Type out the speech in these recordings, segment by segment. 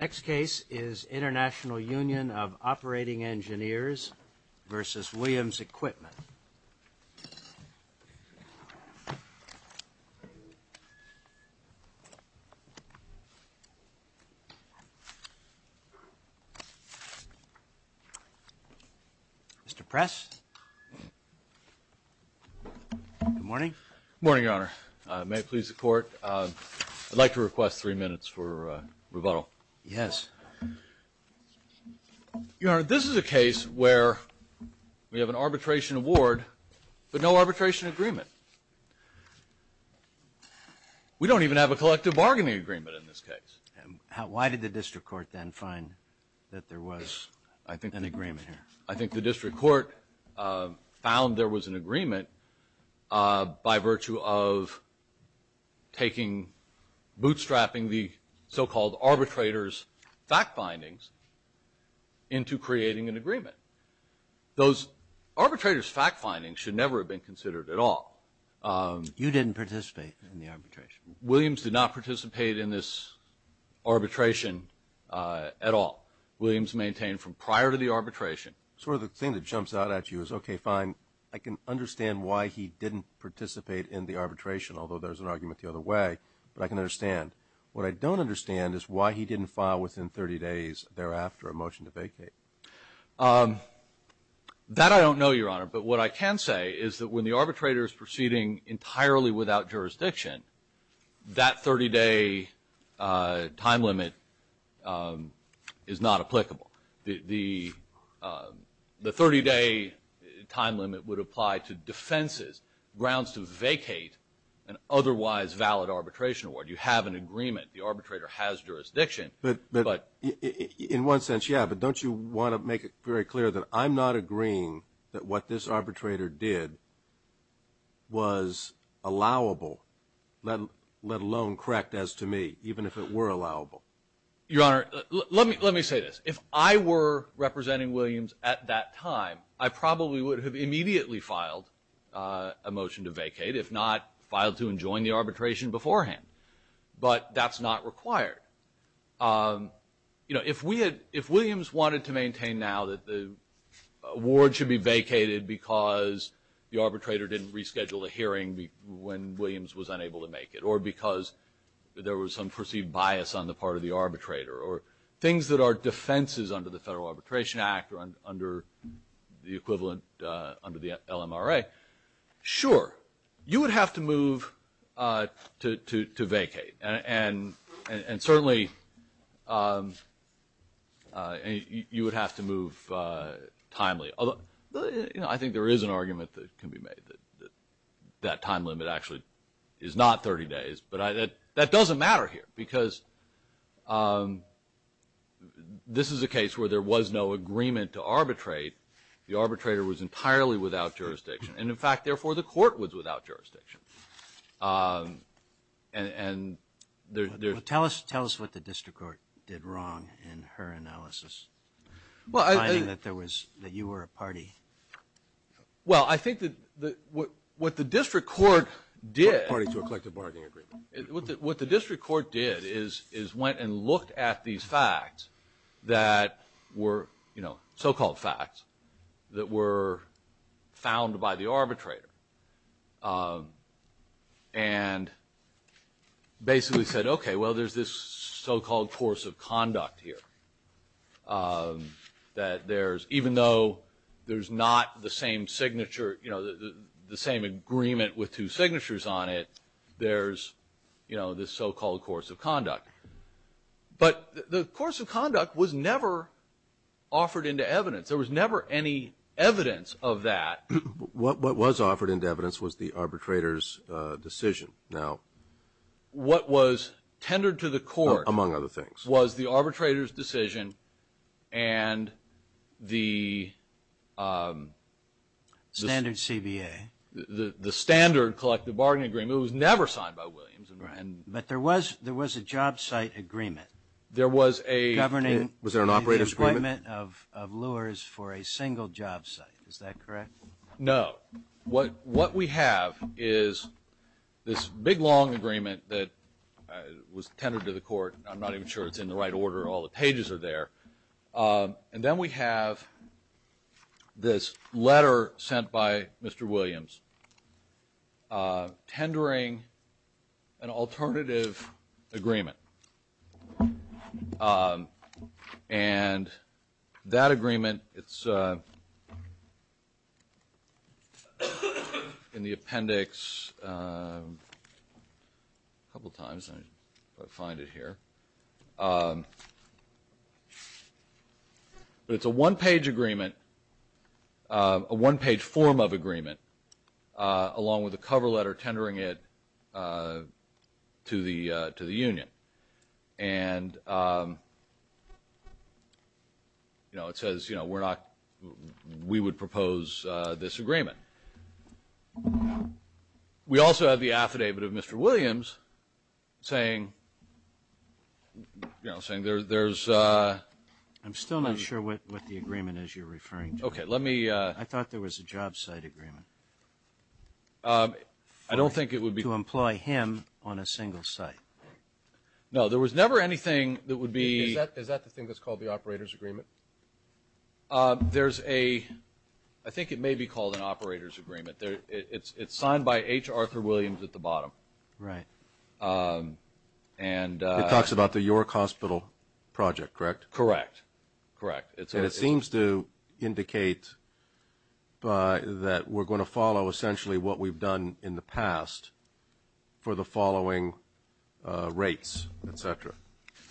Next case is International Union of Operating Engineers v. Williams Equipment. Mr. Press. Good morning. Good morning, Your Honor. May it please the Court, I'd like to request three minutes for rebuttal. Yes. Your Honor, this is a case where we have an arbitration award but no arbitration agreement. We don't even have a collective bargaining agreement in this case. Why did the district court then find that there was an agreement here? I think the district court found there was an agreement by virtue of taking, bootstrapping the so-called arbitrator's fact findings into creating an agreement. Those arbitrator's fact findings should never have been considered at all. You didn't participate in the arbitration. Williams did not participate in this arbitration at all. Williams maintained from prior to the arbitration. Sort of the thing that jumps out at you is, okay, fine, I can understand why he didn't participate in the arbitration, although there's an argument the other way, but I can understand. What I don't understand is why he didn't file within 30 days thereafter a motion to vacate. That I don't know, Your Honor, but what I can say is that when the arbitrator is proceeding entirely without jurisdiction, that 30-day time limit is not applicable. The 30-day time limit would apply to defenses, grounds to vacate an otherwise valid arbitration award. You have an agreement. The arbitrator has jurisdiction. But in one sense, yeah, but don't you want to make it very clear that I'm not agreeing that what this arbitrator did was allowable let alone correct as to me, even if it were allowable? Your Honor, let me say this. If I were representing Williams at that time, I probably would have immediately filed a motion to vacate, if not filed to enjoin the arbitration beforehand. But that's not required. If Williams wanted to maintain now that the award should be vacated because the arbitrator didn't reschedule a hearing when Williams was unable to make it or because there was some perceived bias on the part of the arbitrator or things that are defenses under the Federal Arbitration Act or under the equivalent under the LMRA, sure. You would have to move to vacate. And certainly, you would have to move timely. I think there is an argument that can be made that that time limit actually is not 30 days. But that doesn't matter here because this is a case where there was no agreement to arbitrate. The arbitrator was entirely without jurisdiction. And in fact, therefore, the court was without jurisdiction. Tell us what the district court did wrong in her analysis, finding that you were a party. Well, I think what the district court did is went and looked at these facts that were so-called facts that were found by the arbitrator. And basically said, okay, well, there's this so-called course of conduct here that there's, even though there's not the same signature, you know, the same agreement with two signatures on it, there's, you know, this so-called course of conduct. But the course of conduct was never offered into evidence. There was never any evidence of that. What was offered into evidence was the arbitrator's decision. Now, what was tendered to the court, among other things, was the arbitrator's decision and the standard CBA. The standard collective bargaining agreement. It was never signed by Williams. But there was a job site agreement governing the employment of lures for a single job site. Is that correct? No. What we have is this big, long agreement that was tendered to the court. I'm not even sure it's in the right order. All the pages are there. And then we have this letter sent by Mr. Williams tendering an alternative agreement. And that agreement, it's in the appendix a couple times, if I find it here. But it's a one-page agreement, a one-page form of agreement, along with a cover letter tendering it to the union. And, you know, it says, you know, we're not we would propose this agreement. We also have the affidavit of Mr. Williams saying, you know, saying there's a ---- I'm still not sure what the agreement is you're referring to. Okay. Let me ---- I thought there was a job site agreement. I don't think it would be ---- To employ him on a single site. No. There was never anything that would be ---- Is that the thing that's called the operator's agreement? There's a ---- I think it may be called an operator's agreement. It's signed by H. Arthur Williams at the bottom. Right. And ---- It talks about the York Hospital project, correct? Correct. Correct. And it seems to indicate that we're going to follow essentially what we've done in the past for the following rates, et cetera.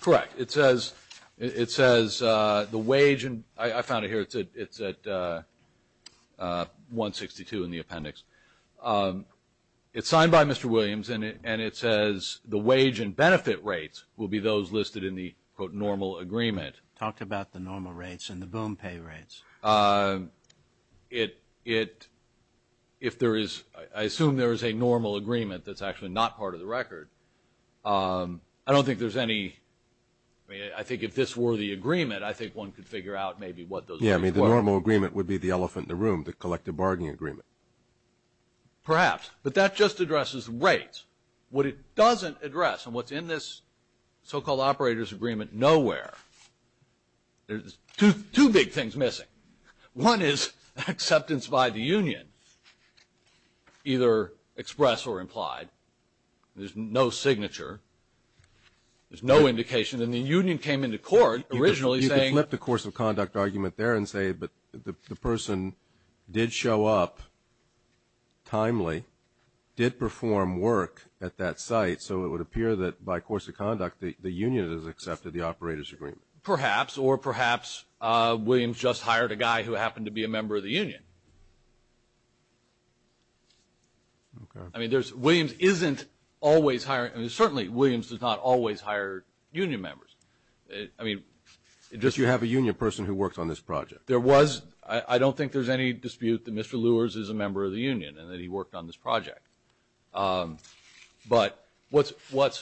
Correct. It says the wage and ---- I found it here. It's at 162 in the appendix. It's signed by Mr. Williams, and it says the wage and benefit rates will be those listed in the, quote, normal agreement. Talk about the normal rates and the boom pay rates. It ---- if there is ---- I assume there is a normal agreement that's actually not part of the record. I don't think there's any ---- I mean, I think if this were the agreement, I think one could figure out maybe what those rates were. Yeah, I mean, the normal agreement would be the elephant in the room, the collective bargaining agreement. Perhaps. But that just addresses rates. What it doesn't address and what's in this so-called operator's agreement nowhere, there's two big things missing. One is acceptance by the union, either express or implied. There's no signature. There's no indication. And the union came into court originally saying ---- You could flip the course of conduct argument there and say, but the person did show up timely, did perform work at that site, so it would appear that by course of conduct the union has accepted the operator's agreement. Perhaps, or perhaps Williams just hired a guy who happened to be a member of the union. Okay. I mean, there's ---- Williams isn't always hiring. I mean, certainly Williams does not always hire union members. I mean, it just ---- But you have a union person who works on this project. There was. I don't think there's any dispute that Mr. Lewis is a member of the union and that he worked on this project. But what's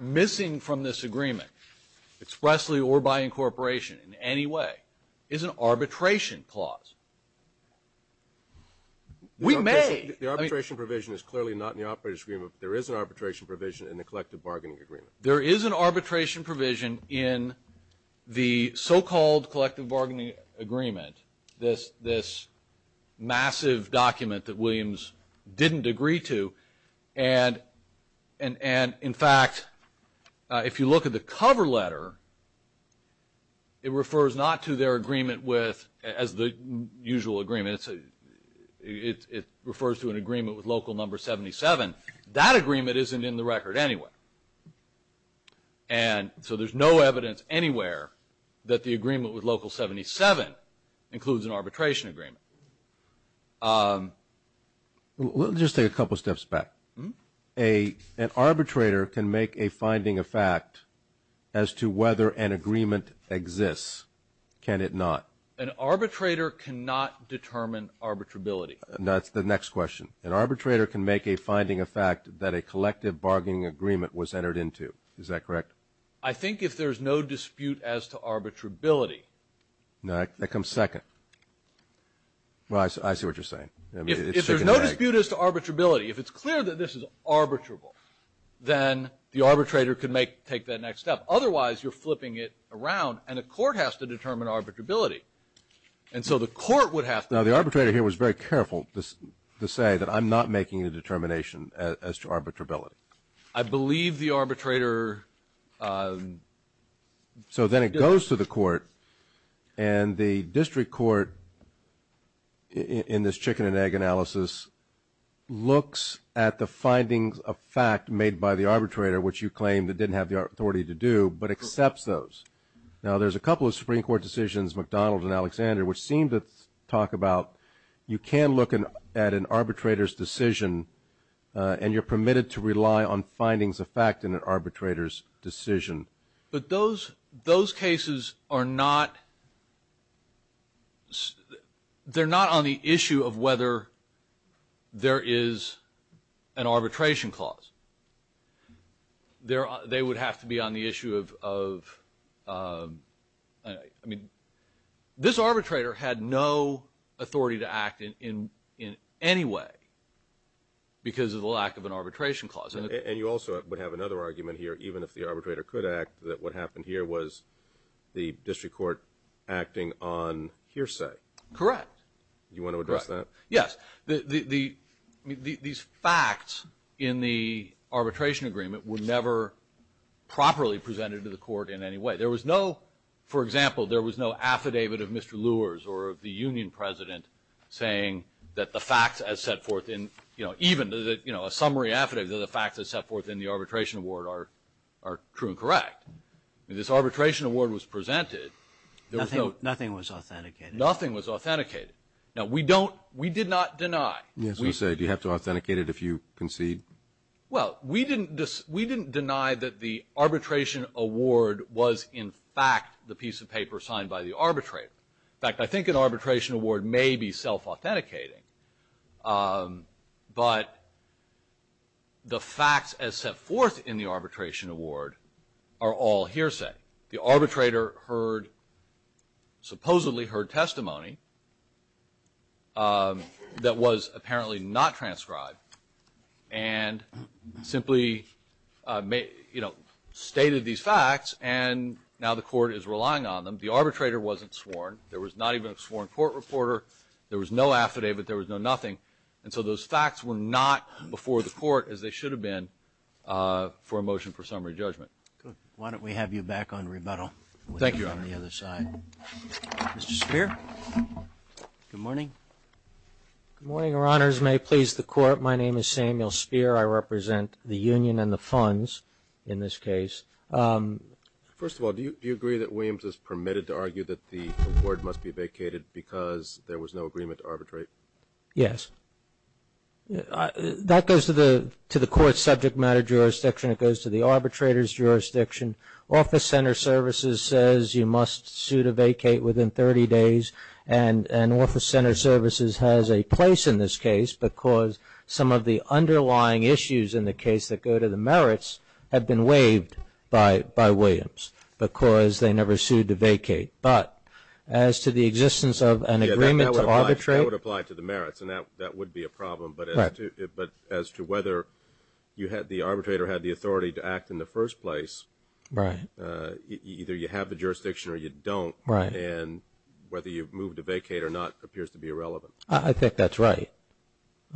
missing from this agreement, expressly or by incorporation in any way, is an arbitration clause. We may ---- The arbitration provision is clearly not in the operator's agreement, but there is an arbitration provision in the collective bargaining agreement. There is an arbitration provision in the so-called collective bargaining agreement, this massive document that Williams didn't agree to. And, in fact, if you look at the cover letter, it refers not to their agreement with ---- as the usual agreement, it refers to an agreement with local number 77. That agreement isn't in the record anyway. And so there's no evidence anywhere that the agreement with local 77 includes an arbitration agreement. We'll just take a couple steps back. An arbitrator can make a finding of fact as to whether an agreement exists, can it not? An arbitrator cannot determine arbitrability. That's the next question. An arbitrator can make a finding of fact that a collective bargaining agreement was entered into. Is that correct? I think if there's no dispute as to arbitrability ---- That comes second. Well, I see what you're saying. If there's no dispute as to arbitrability, if it's clear that this is arbitrable, then the arbitrator can take that next step. Otherwise, you're flipping it around, and a court has to determine arbitrability. And so the court would have to ---- Now, the arbitrator here was very careful to say that I'm not making a determination as to arbitrability. I believe the arbitrator ---- So then it goes to the court, and the district court, in this chicken-and-egg analysis, looks at the findings of fact made by the arbitrator, which you claimed it didn't have the authority to do, but accepts those. Now, there's a couple of Supreme Court decisions, McDonald and Alexander, which seem to talk about you can look at an arbitrator's decision, and you're permitted to rely on findings of fact in an arbitrator's decision. But those cases are not ---- they're not on the issue of whether there is an arbitration clause. They would have to be on the issue of ---- I mean, this arbitrator had no authority to act in any way because of the lack of an arbitration clause. And you also would have another argument here, even if the arbitrator could act, that what happened here was the district court acting on hearsay. Correct. Do you want to address that? Correct. Yes. These facts in the arbitration agreement were never properly presented to the court in any way. There was no ---- for example, there was no affidavit of Mr. Lewis or of the union president saying that the facts as set forth in ---- even a summary affidavit of the facts as set forth in the arbitration award are true and correct. This arbitration award was presented. Nothing was authenticated. Nothing was authenticated. Now, we don't ---- we did not deny. Yes, you say. Do you have to authenticate it if you concede? Well, we didn't ---- we didn't deny that the arbitration award was in fact the piece of paper signed by the arbitrator. In fact, I think an arbitration award may be self-authenticating, but the facts as set forth in the arbitration award are all hearsay. The arbitrator heard ---- supposedly heard testimony that was apparently not transcribed and simply, you know, stated these facts, and now the court is relying on them. The arbitrator wasn't sworn. There was not even a sworn court reporter. There was no affidavit. There was no nothing. And so those facts were not before the court as they should have been for a motion for summary judgment. Good. Why don't we have you back on rebuttal? Thank you. On the other side. Mr. Speer, good morning. Good morning, Your Honors. May it please the Court, my name is Samuel Speer. I represent the union and the funds in this case. First of all, do you agree that Williams is permitted to argue that the award must be vacated because there was no agreement to arbitrate? Yes. That goes to the court's subject matter jurisdiction. It goes to the arbitrator's jurisdiction. Office Center Services says you must sue to vacate within 30 days, and Office Center Services has a place in this case because some of the underlying issues in the case that go to the merits have been waived by Williams because they never sued to vacate. But as to the existence of an agreement to arbitrate? That would apply to the merits, and that would be a problem. Right. But as to whether the arbitrator had the authority to act in the first place? Right. Either you have the jurisdiction or you don't. Right. And whether you move to vacate or not appears to be irrelevant. I think that's right.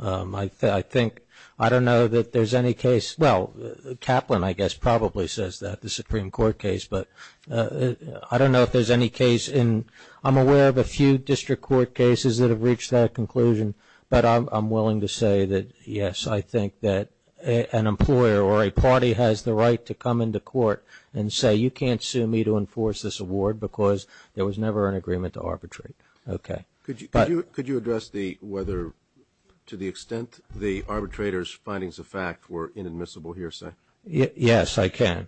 I think – I don't know that there's any case – well, Kaplan, I guess, probably says that, the Supreme Court case, but I don't know if there's any case in – I'm aware of a few district court cases that have reached that conclusion, but I'm willing to say that, yes, I think that an employer or a party has the right to come into court and say you can't sue me to enforce this award because there was never an agreement to arbitrate. Okay. Could you address the – whether, to the extent the arbitrator's findings of fact were inadmissible hearsay? Yes, I can.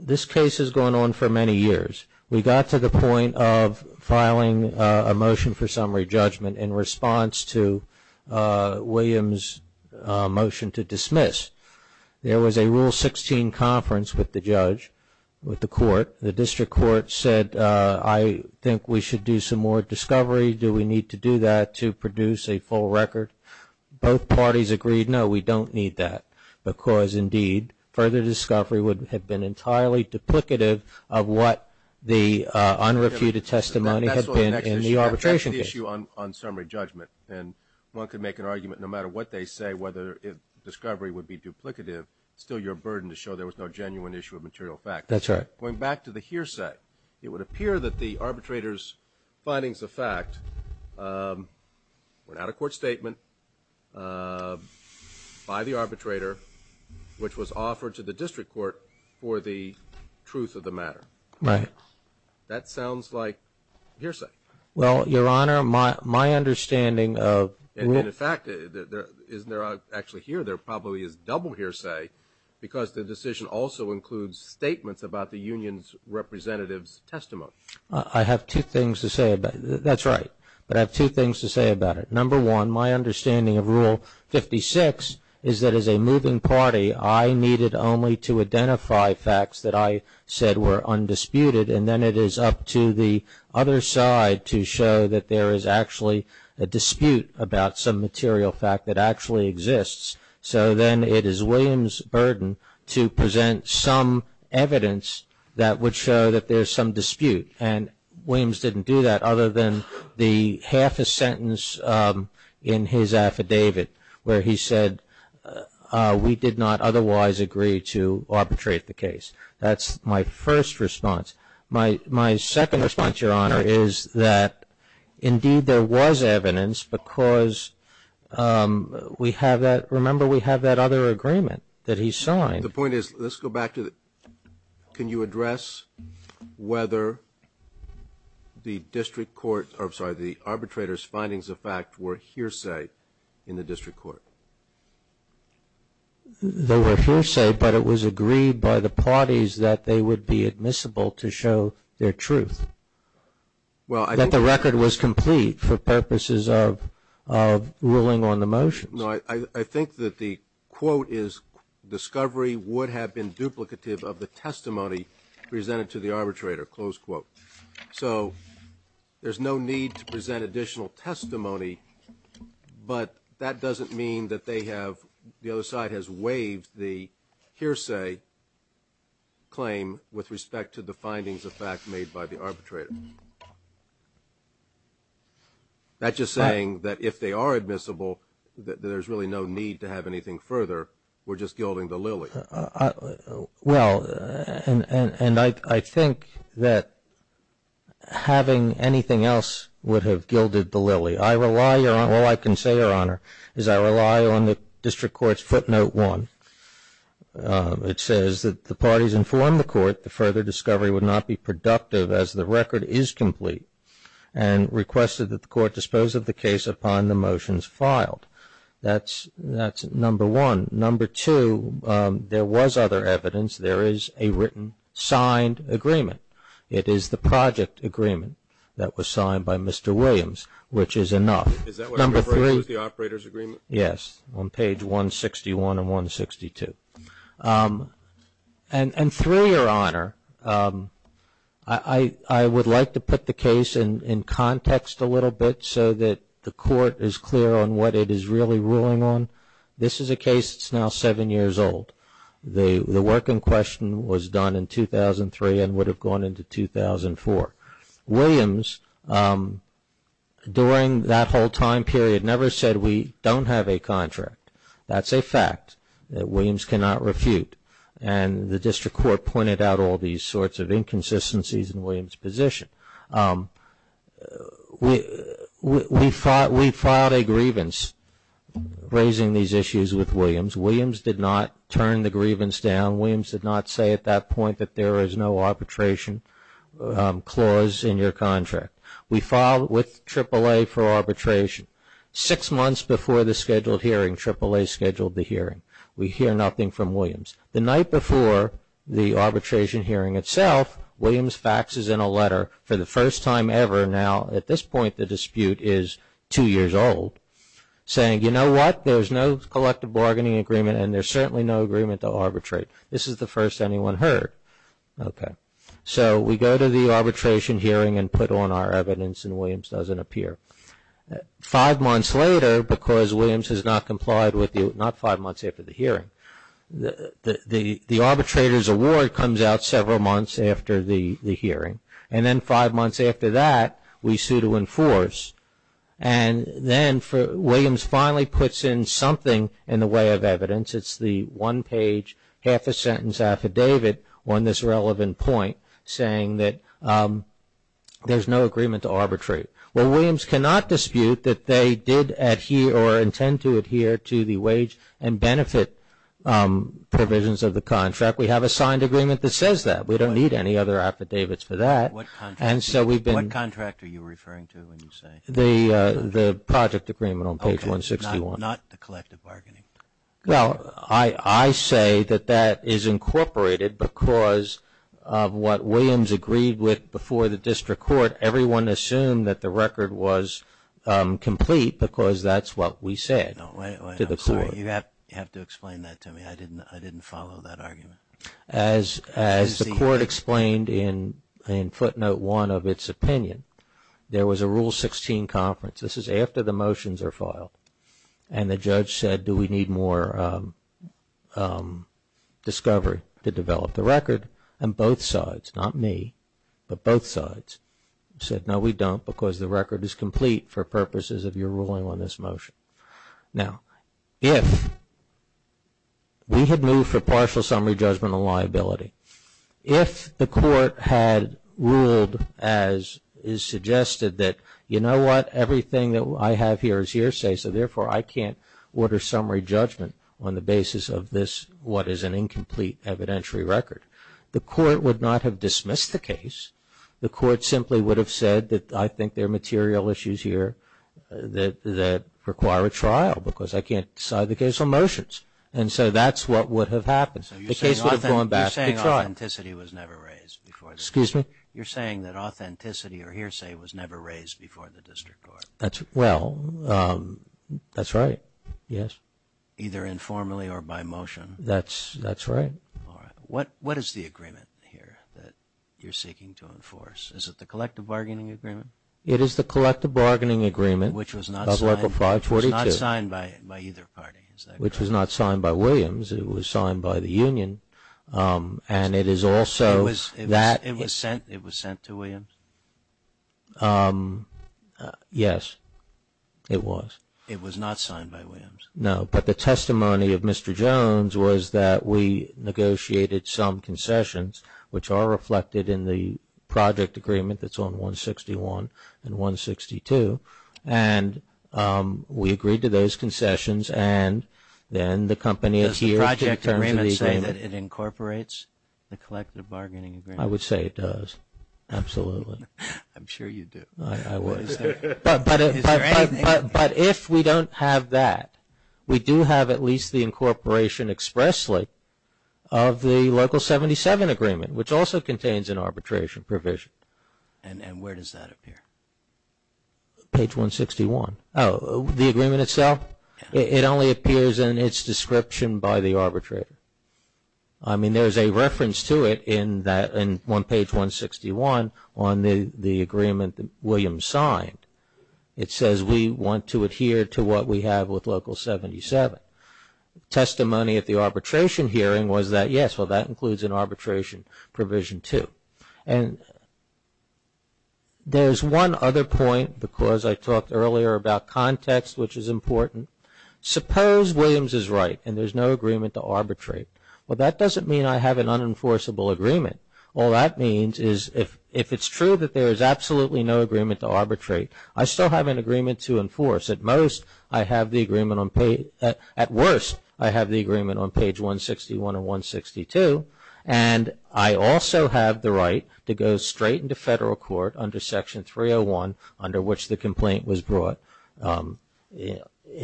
This case has gone on for many years. We got to the point of filing a motion for summary judgment in response to Williams' motion to dismiss. There was a Rule 16 conference with the judge, with the court. The district court said, I think we should do some more discovery. Do we need to do that to produce a full record? Both parties agreed, no, we don't need that because, indeed, further discovery would have been entirely duplicative of what the unrefuted testimony had been in the arbitration case. That's the issue on summary judgment, and one could make an argument no matter what they say whether discovery would be duplicative, it's still your burden to show there was no genuine issue of material fact. That's right. Going back to the hearsay, it would appear that the arbitrator's findings of fact were not a court statement by the arbitrator, which was offered to the district court for the truth of the matter. Right. That sounds like hearsay. Well, Your Honor, my understanding of rule... And, in fact, isn't there actually here, there probably is double hearsay because the decision also includes statements about the union's representative's testimony. I have two things to say about it. That's right, but I have two things to say about it. Number one, my understanding of rule 56 is that, as a moving party, I needed only to identify facts that I said were undisputed, and then it is up to the other side to show that there is actually a dispute about some material fact that actually exists. So then it is Williams' burden to present some evidence that would show that there is some dispute, and Williams didn't do that other than the half a sentence in his affidavit where he said, we did not otherwise agree to arbitrate the case. That's my first response. My second response, Your Honor, is that, indeed, there was evidence because we have that, remember, we have that other agreement that he signed. The point is, let's go back to the, can you address whether the district court, or I'm sorry, the arbitrator's findings of fact were hearsay in the district court? They were hearsay, but it was agreed by the parties that they would be admissible to show their truth. Well, I think. That the record was complete for purposes of ruling on the motions. No, I think that the quote is, discovery would have been duplicative of the testimony presented to the arbitrator, close quote. So there's no need to present additional testimony, but that doesn't mean that they have, the other side has waived the hearsay claim with respect to the findings of fact made by the arbitrator. That's just saying that if they are admissible, that there's really no need to have anything further. We're just gilding the lily. Well, and I think that having anything else would have gilded the lily. I rely, all I can say, Your Honor, is I rely on the district court's footnote one. It says that the parties informed the court the further discovery would not be productive as the record is complete and requested that the court dispose of the case upon the motions filed. That's number one. Number two, there was other evidence. There is a written signed agreement. It is the project agreement that was signed by Mr. Williams, which is enough. Is that what you're referring to as the operator's agreement? Yes, on page 161 and 162. And three, Your Honor, I would like to put the case in context a little bit so that the court is clear on what it is really ruling on. This is a case that's now seven years old. The work in question was done in 2003 and would have gone into 2004. Williams, during that whole time period, never said we don't have a contract. That's a fact that Williams cannot refute. And the district court pointed out all these sorts of inconsistencies in Williams' position. We filed a grievance raising these issues with Williams. Williams did not turn the grievance down. Williams did not say at that point that there is no arbitration clause in your contract. We filed with AAA for arbitration. Six months before the scheduled hearing, AAA scheduled the hearing. We hear nothing from Williams. The night before the arbitration hearing itself, Williams faxes in a letter for the first time ever, now at this point the dispute is two years old, saying, you know what, there's no collective bargaining agreement and there's certainly no agreement to arbitrate. This is the first anyone heard. Okay. So we go to the arbitration hearing and put on our evidence and Williams doesn't appear. Five months later, because Williams has not complied with the, not five months after the hearing, the arbitrator's award comes out several months after the hearing. And then five months after that, we sue to enforce. And then Williams finally puts in something in the way of evidence. It's the one-page, half-a-sentence affidavit on this relevant point, saying that there's no agreement to arbitrate. Well, Williams cannot dispute that they did adhere or intend to adhere to the wage and benefit provisions of the contract. We have a signed agreement that says that. We don't need any other affidavits for that. What contract are you referring to when you say? The project agreement on page 161. Okay. Not the collective bargaining. Well, I say that that is incorporated because of what Williams agreed with before the district court. Everyone assumed that the record was complete because that's what we said to the court. Wait, wait. I'm sorry. You have to explain that to me. I didn't follow that argument. As the court explained in footnote one of its opinion, there was a Rule 16 conference. This is after the motions are filed. And the judge said, do we need more discovery to develop the record? And both sides, not me, but both sides said, no, we don't, because the record is complete for purposes of your ruling on this motion. Now, if we had moved for partial summary judgment on liability, if the court had ruled as is suggested that, you know what? Everything that I have here is hearsay, so therefore I can't order summary judgment on the basis of this, what is an incomplete evidentiary record. The court would not have dismissed the case. The court simply would have said that I think there are material issues here that require a trial because I can't decide the case on motions. And so that's what would have happened. The case would have gone back to trial. So you're saying authenticity was never raised before the district court? Excuse me? You're saying that authenticity or hearsay was never raised before the district court? Well, that's right, yes. Either informally or by motion? That's right. All right. What is the agreement here that you're seeking to enforce? Is it the collective bargaining agreement? It is the collective bargaining agreement of Article 542. Which was not signed by either party, is that correct? Which was not signed by Williams. It was signed by the union, and it is also that. It was sent to Williams? Yes, it was. It was not signed by Williams? No, but the testimony of Mr. Jones was that we negotiated some concessions, which are reflected in the project agreement that's on 161 and 162. And we agreed to those concessions, and then the company adhered to terms of the agreement. Does the project agreement say that it incorporates the collective bargaining agreement? I would say it does, absolutely. I'm sure you do. I would. Is there anything? But if we don't have that, we do have at least the incorporation expressly of the local 77 agreement, which also contains an arbitration provision. And where does that appear? Page 161. Oh, the agreement itself? It only appears in its description by the arbitrator. I mean, there's a reference to it on page 161 on the agreement that Williams signed. It says we want to adhere to what we have with local 77. Testimony at the arbitration hearing was that, yes, well that includes an arbitration provision too. And there's one other point because I talked earlier about context, which is important. Suppose Williams is right and there's no agreement to arbitrate. Well, that doesn't mean I have an unenforceable agreement. All that means is if it's true that there is absolutely no agreement to arbitrate, I still have an agreement to enforce. At worst, I have the agreement on page 161 or 162, and I also have the right to go straight into federal court under Section 301, under which the complaint was brought in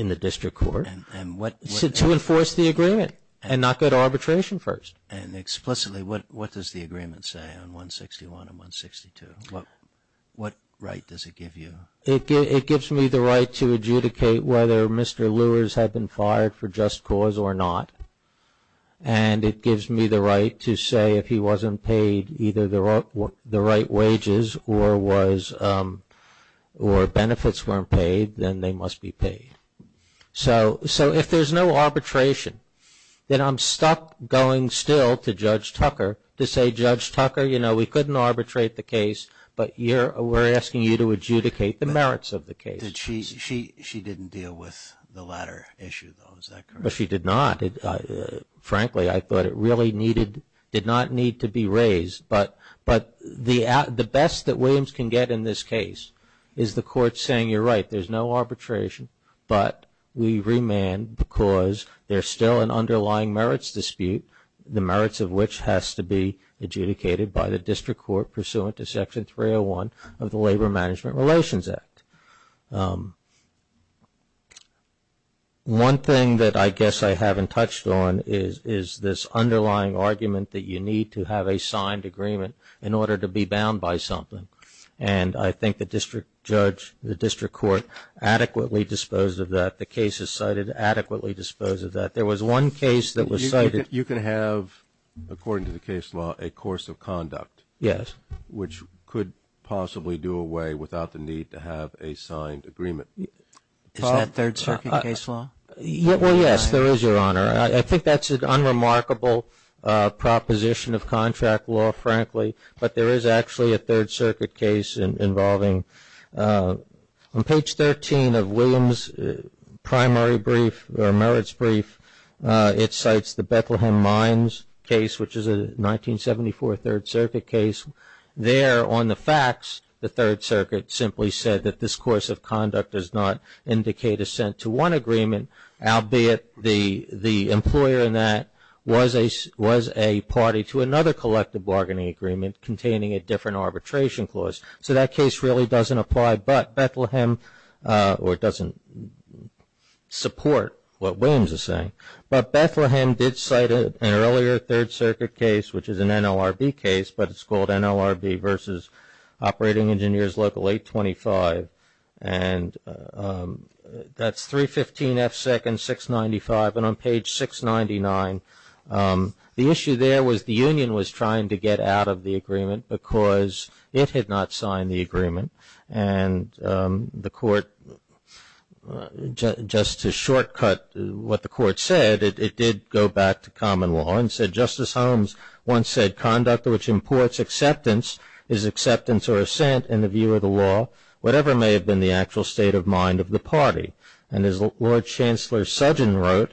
the district court to enforce the agreement and not go to arbitration first. And explicitly, what does the agreement say on 161 and 162? What right does it give you? It gives me the right to adjudicate whether Mr. Lewis had been fired for just cause or not. And it gives me the right to say if he wasn't paid either the right wages or benefits weren't paid, then they must be paid. So if there's no arbitration, then I'm stuck going still to Judge Tucker to say, Judge Tucker, you know, we couldn't arbitrate the case, but we're asking you to adjudicate the merits of the case. She didn't deal with the latter issue, though. Is that correct? She did not. Frankly, I thought it really did not need to be raised. But the best that Williams can get in this case is the court saying, you're right, there's no arbitration, but we remand because there's still an underlying merits dispute, the merits of which has to be adjudicated by the district court pursuant to Section 301 of the Labor Management Relations Act. One thing that I guess I haven't touched on is this underlying argument that you need to have a signed agreement in order to be bound by something. And I think the district judge, the district court adequately disposed of that. The case is cited adequately disposed of that. There was one case that was cited. You can have, according to the case law, a course of conduct. Yes. Which could possibly do away without the need to have a signed agreement. Is that Third Circuit case law? Well, yes, there is, Your Honor. I think that's an unremarkable proposition of contract law, frankly. But there is actually a Third Circuit case involving, on page 13 of Williams' primary brief or merits brief, it cites the Bethlehem Mines case, which is a 1974 Third Circuit case. There on the facts, the Third Circuit simply said that this course of conduct does not indicate assent to one agreement, albeit the employer in that was a party to another collective bargaining agreement containing a different arbitration clause. So that case really doesn't apply, or doesn't support what Williams is saying. But Bethlehem did cite an earlier Third Circuit case, which is an NLRB case, but it's called NLRB versus Operating Engineers Local 825. And that's 315 F. Second, 695. And on page 699, the issue there was the union was trying to get out of the agreement because it had not signed the agreement. And the court, just to shortcut what the court said, it did go back to common law and said, Justice Holmes once said, conduct which imports acceptance is acceptance or assent in the view of the law. Whatever may have been the actual state of mind of the party. And as Lord Chancellor Sudden wrote,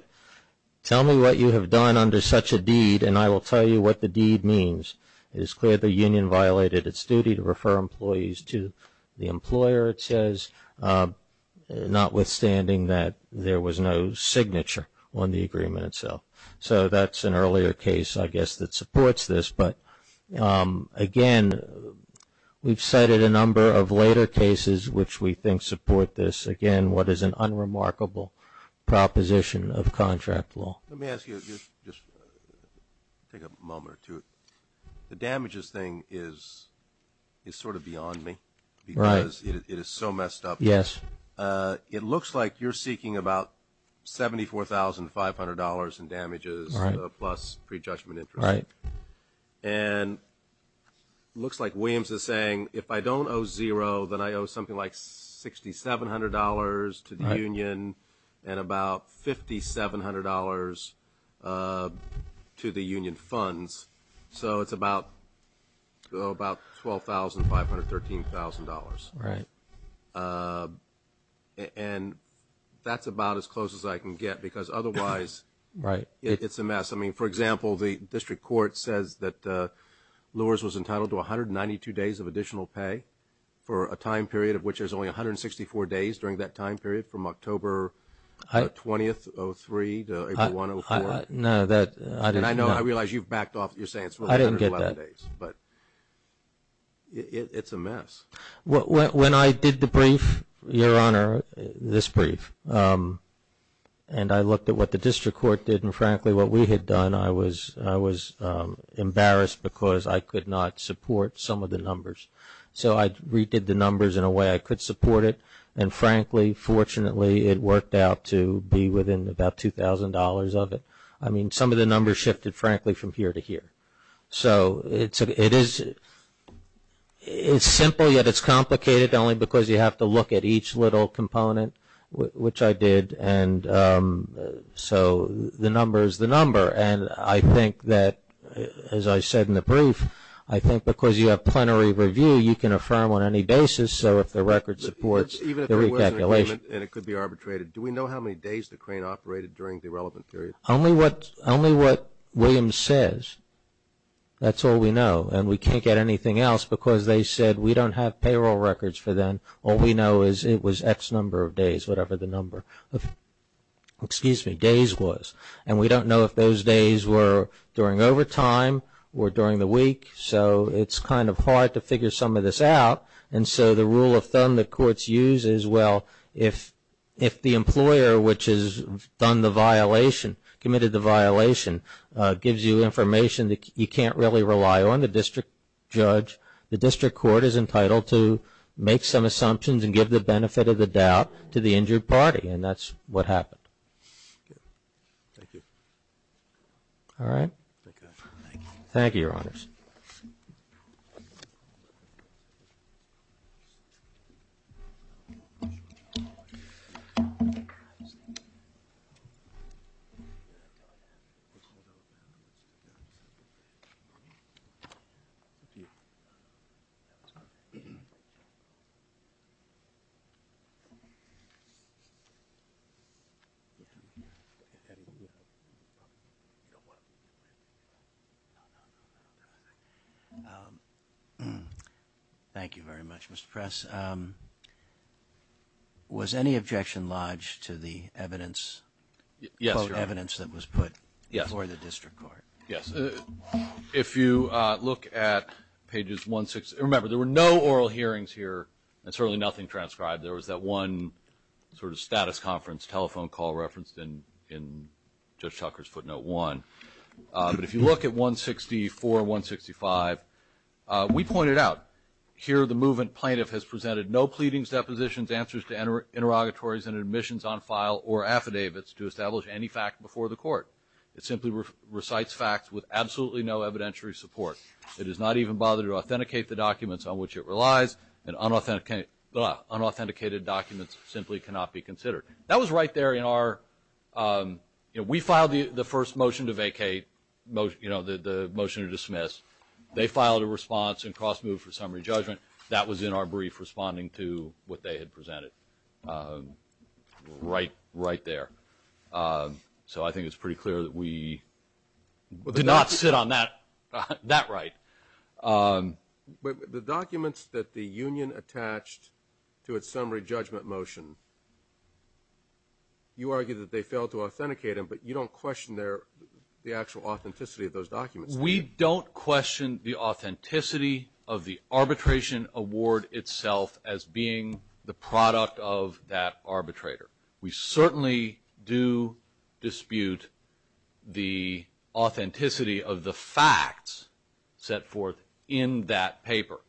tell me what you have done under such a deed, and I will tell you what the deed means. It is clear the union violated its duty to refer employees to the employer, it says, notwithstanding that there was no signature on the agreement itself. So that's an earlier case, I guess, that supports this. But, again, we've cited a number of later cases which we think support this. Again, what is an unremarkable proposition of contract law. Let me ask you, just take a moment or two. The damages thing is sort of beyond me because it is so messed up. Yes. It looks like you're seeking about $74,500 in damages plus prejudgment interest. Right. And it looks like Williams is saying, if I don't owe zero, then I owe something like $6,700 to the union and about $5,700 to the union funds. So it's about $12,500, $13,000. Right. And that's about as close as I can get because otherwise it's a mess. I mean, for example, the district court says that Lewis was entitled to 192 days of additional pay for a time period of which there's only 164 days during that time period from October 20, 2003 to April 1, 2004. No, that – And I know, I realize you've backed off. You're saying it's 111 days. I didn't get that. But it's a mess. When I did the brief, Your Honor, this brief, and I looked at what the district court did and, frankly, what we had done, I was embarrassed because I could not support some of the numbers. So I redid the numbers in a way I could support it. And, frankly, fortunately, it worked out to be within about $2,000 of it. I mean, some of the numbers shifted, frankly, from here to here. So it is – it's simple, yet it's complicated, only because you have to look at each little component, which I did. And so the number is the number. And I think that, as I said in the brief, I think because you have plenary review, you can affirm on any basis, so if the record supports the recalculation. Even if there was an agreement and it could be arbitrated, do we know how many days the crane operated during the relevant period? Only what Williams says, that's all we know. And we can't get anything else because they said we don't have payroll records for them. All we know is it was X number of days, whatever the number of – excuse me – days was. And we don't know if those days were during overtime or during the week. So it's kind of hard to figure some of this out. If the employer which has done the violation, committed the violation, gives you information that you can't really rely on, the district judge, the district court is entitled to make some assumptions and give the benefit of the doubt to the injured party. And that's what happened. All right. Thank you, Your Honors. Thank you very much, Mr. Press. Was any objection lodged to the evidence, quote, evidence that was put before the district court? Yes. If you look at pages 160 – remember, there were no oral hearings here and certainly nothing transcribed. There was that one sort of status conference telephone call referenced in Judge Tucker's footnote one. But if you look at 164, 165, we point it out. Here the movement plaintiff has presented no pleadings, depositions, answers to interrogatories and admissions on file or affidavits to establish any fact before the court. It simply recites facts with absolutely no evidentiary support. It does not even bother to authenticate the documents on which it relies and unauthenticated documents simply cannot be considered. That was right there in our – we filed the first motion to vacate, the motion to dismiss. They filed a response and cross-moved for summary judgment. That was in our brief responding to what they had presented right there. So I think it's pretty clear that we did not sit on that right. The documents that the union attached to its summary judgment motion, you argue that they failed to authenticate them, but you don't question the actual authenticity of those documents. We don't question the authenticity of the arbitration award itself as being the product of that arbitrator. We certainly do dispute the authenticity of the facts set forth in that paper.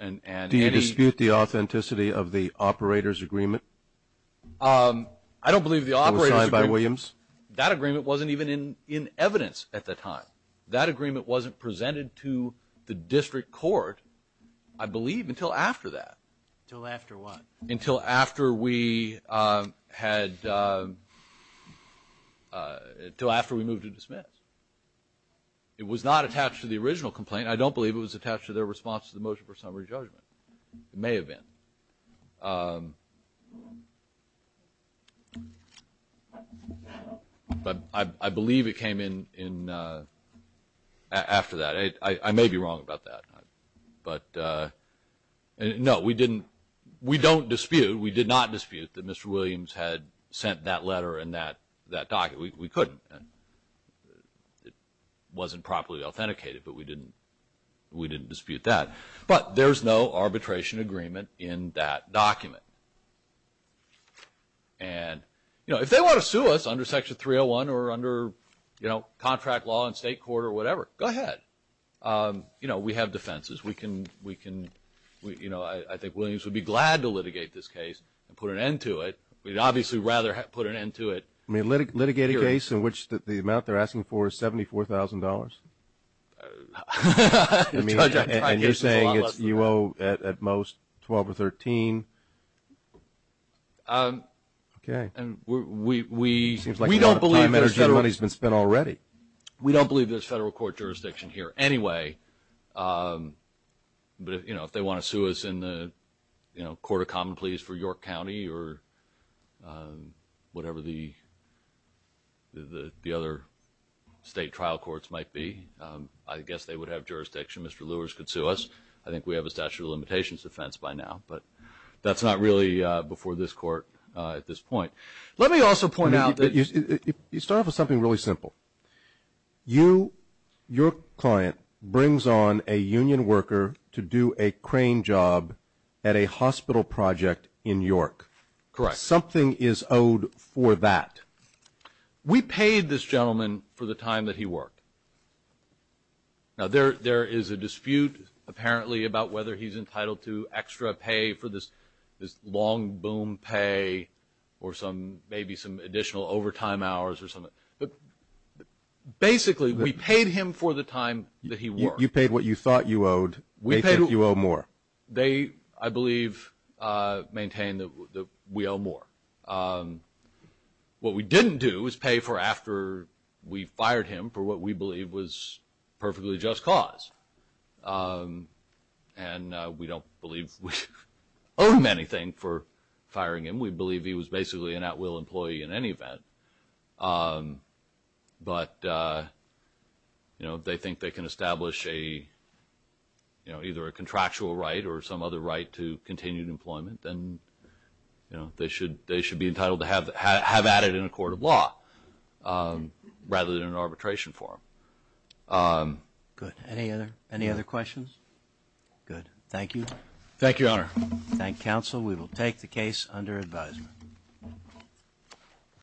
Do you dispute the authenticity of the operator's agreement? I don't believe the operator's agreement – That was signed by Williams? That agreement wasn't even in evidence at the time. That agreement wasn't presented to the district court, I believe, until after that. Until after what? Until after we had – until after we moved to dismiss. It was not attached to the original complaint. I don't believe it was attached to their response to the motion for summary judgment. It may have been. But I believe it came in after that. I may be wrong about that. But, no, we didn't – we don't dispute – we did not dispute that Mr. Williams had sent that letter and that document. We couldn't. It wasn't properly authenticated, but we didn't dispute that. But there's no arbitration agreement in that document. And, you know, if they want to sue us under Section 301 or under, you know, contract law in state court or whatever, go ahead. You know, we have defenses. We can – you know, I think Williams would be glad to litigate this case and put an end to it. We'd obviously rather put an end to it. I mean, litigate a case in which the amount they're asking for is $74,000? And you're saying it's – you owe at most $12,000 or $13,000? Okay. And we don't believe there's federal – It seems like a lot of time and money has been spent already. We don't believe there's federal court jurisdiction here anyway. But, you know, if they want to sue us in the, you know, Court of Common Pleas for York County or whatever the other state trial courts might be, I guess they would have jurisdiction. Mr. Lewis could sue us. I think we have a statute of limitations defense by now, but that's not really before this court at this point. Let me also point out that – You start off with something really simple. You – your client brings on a union worker to do a crane job at a hospital project in York. Correct. Something is owed for that. We paid this gentleman for the time that he worked. Now, there is a dispute apparently about whether he's entitled to extra pay for this long boom pay or some – maybe some additional overtime hours or something. But basically, we paid him for the time that he worked. You paid what you thought you owed. They think you owe more. They, I believe, maintain that we owe more. What we didn't do is pay for after we fired him for what we believe was perfectly just cause. And we don't believe we owe him anything for firing him. We believe he was basically an at-will employee in any event. But, you know, if they think they can establish a, you know, either a contractual right or some other right to continued employment, then, you know, they should be entitled to have added in a court of law rather than an arbitration form. Good. Any other questions? Good. Thank you. Thank you, Your Honor. Thank you, counsel. We will take the case under advisement.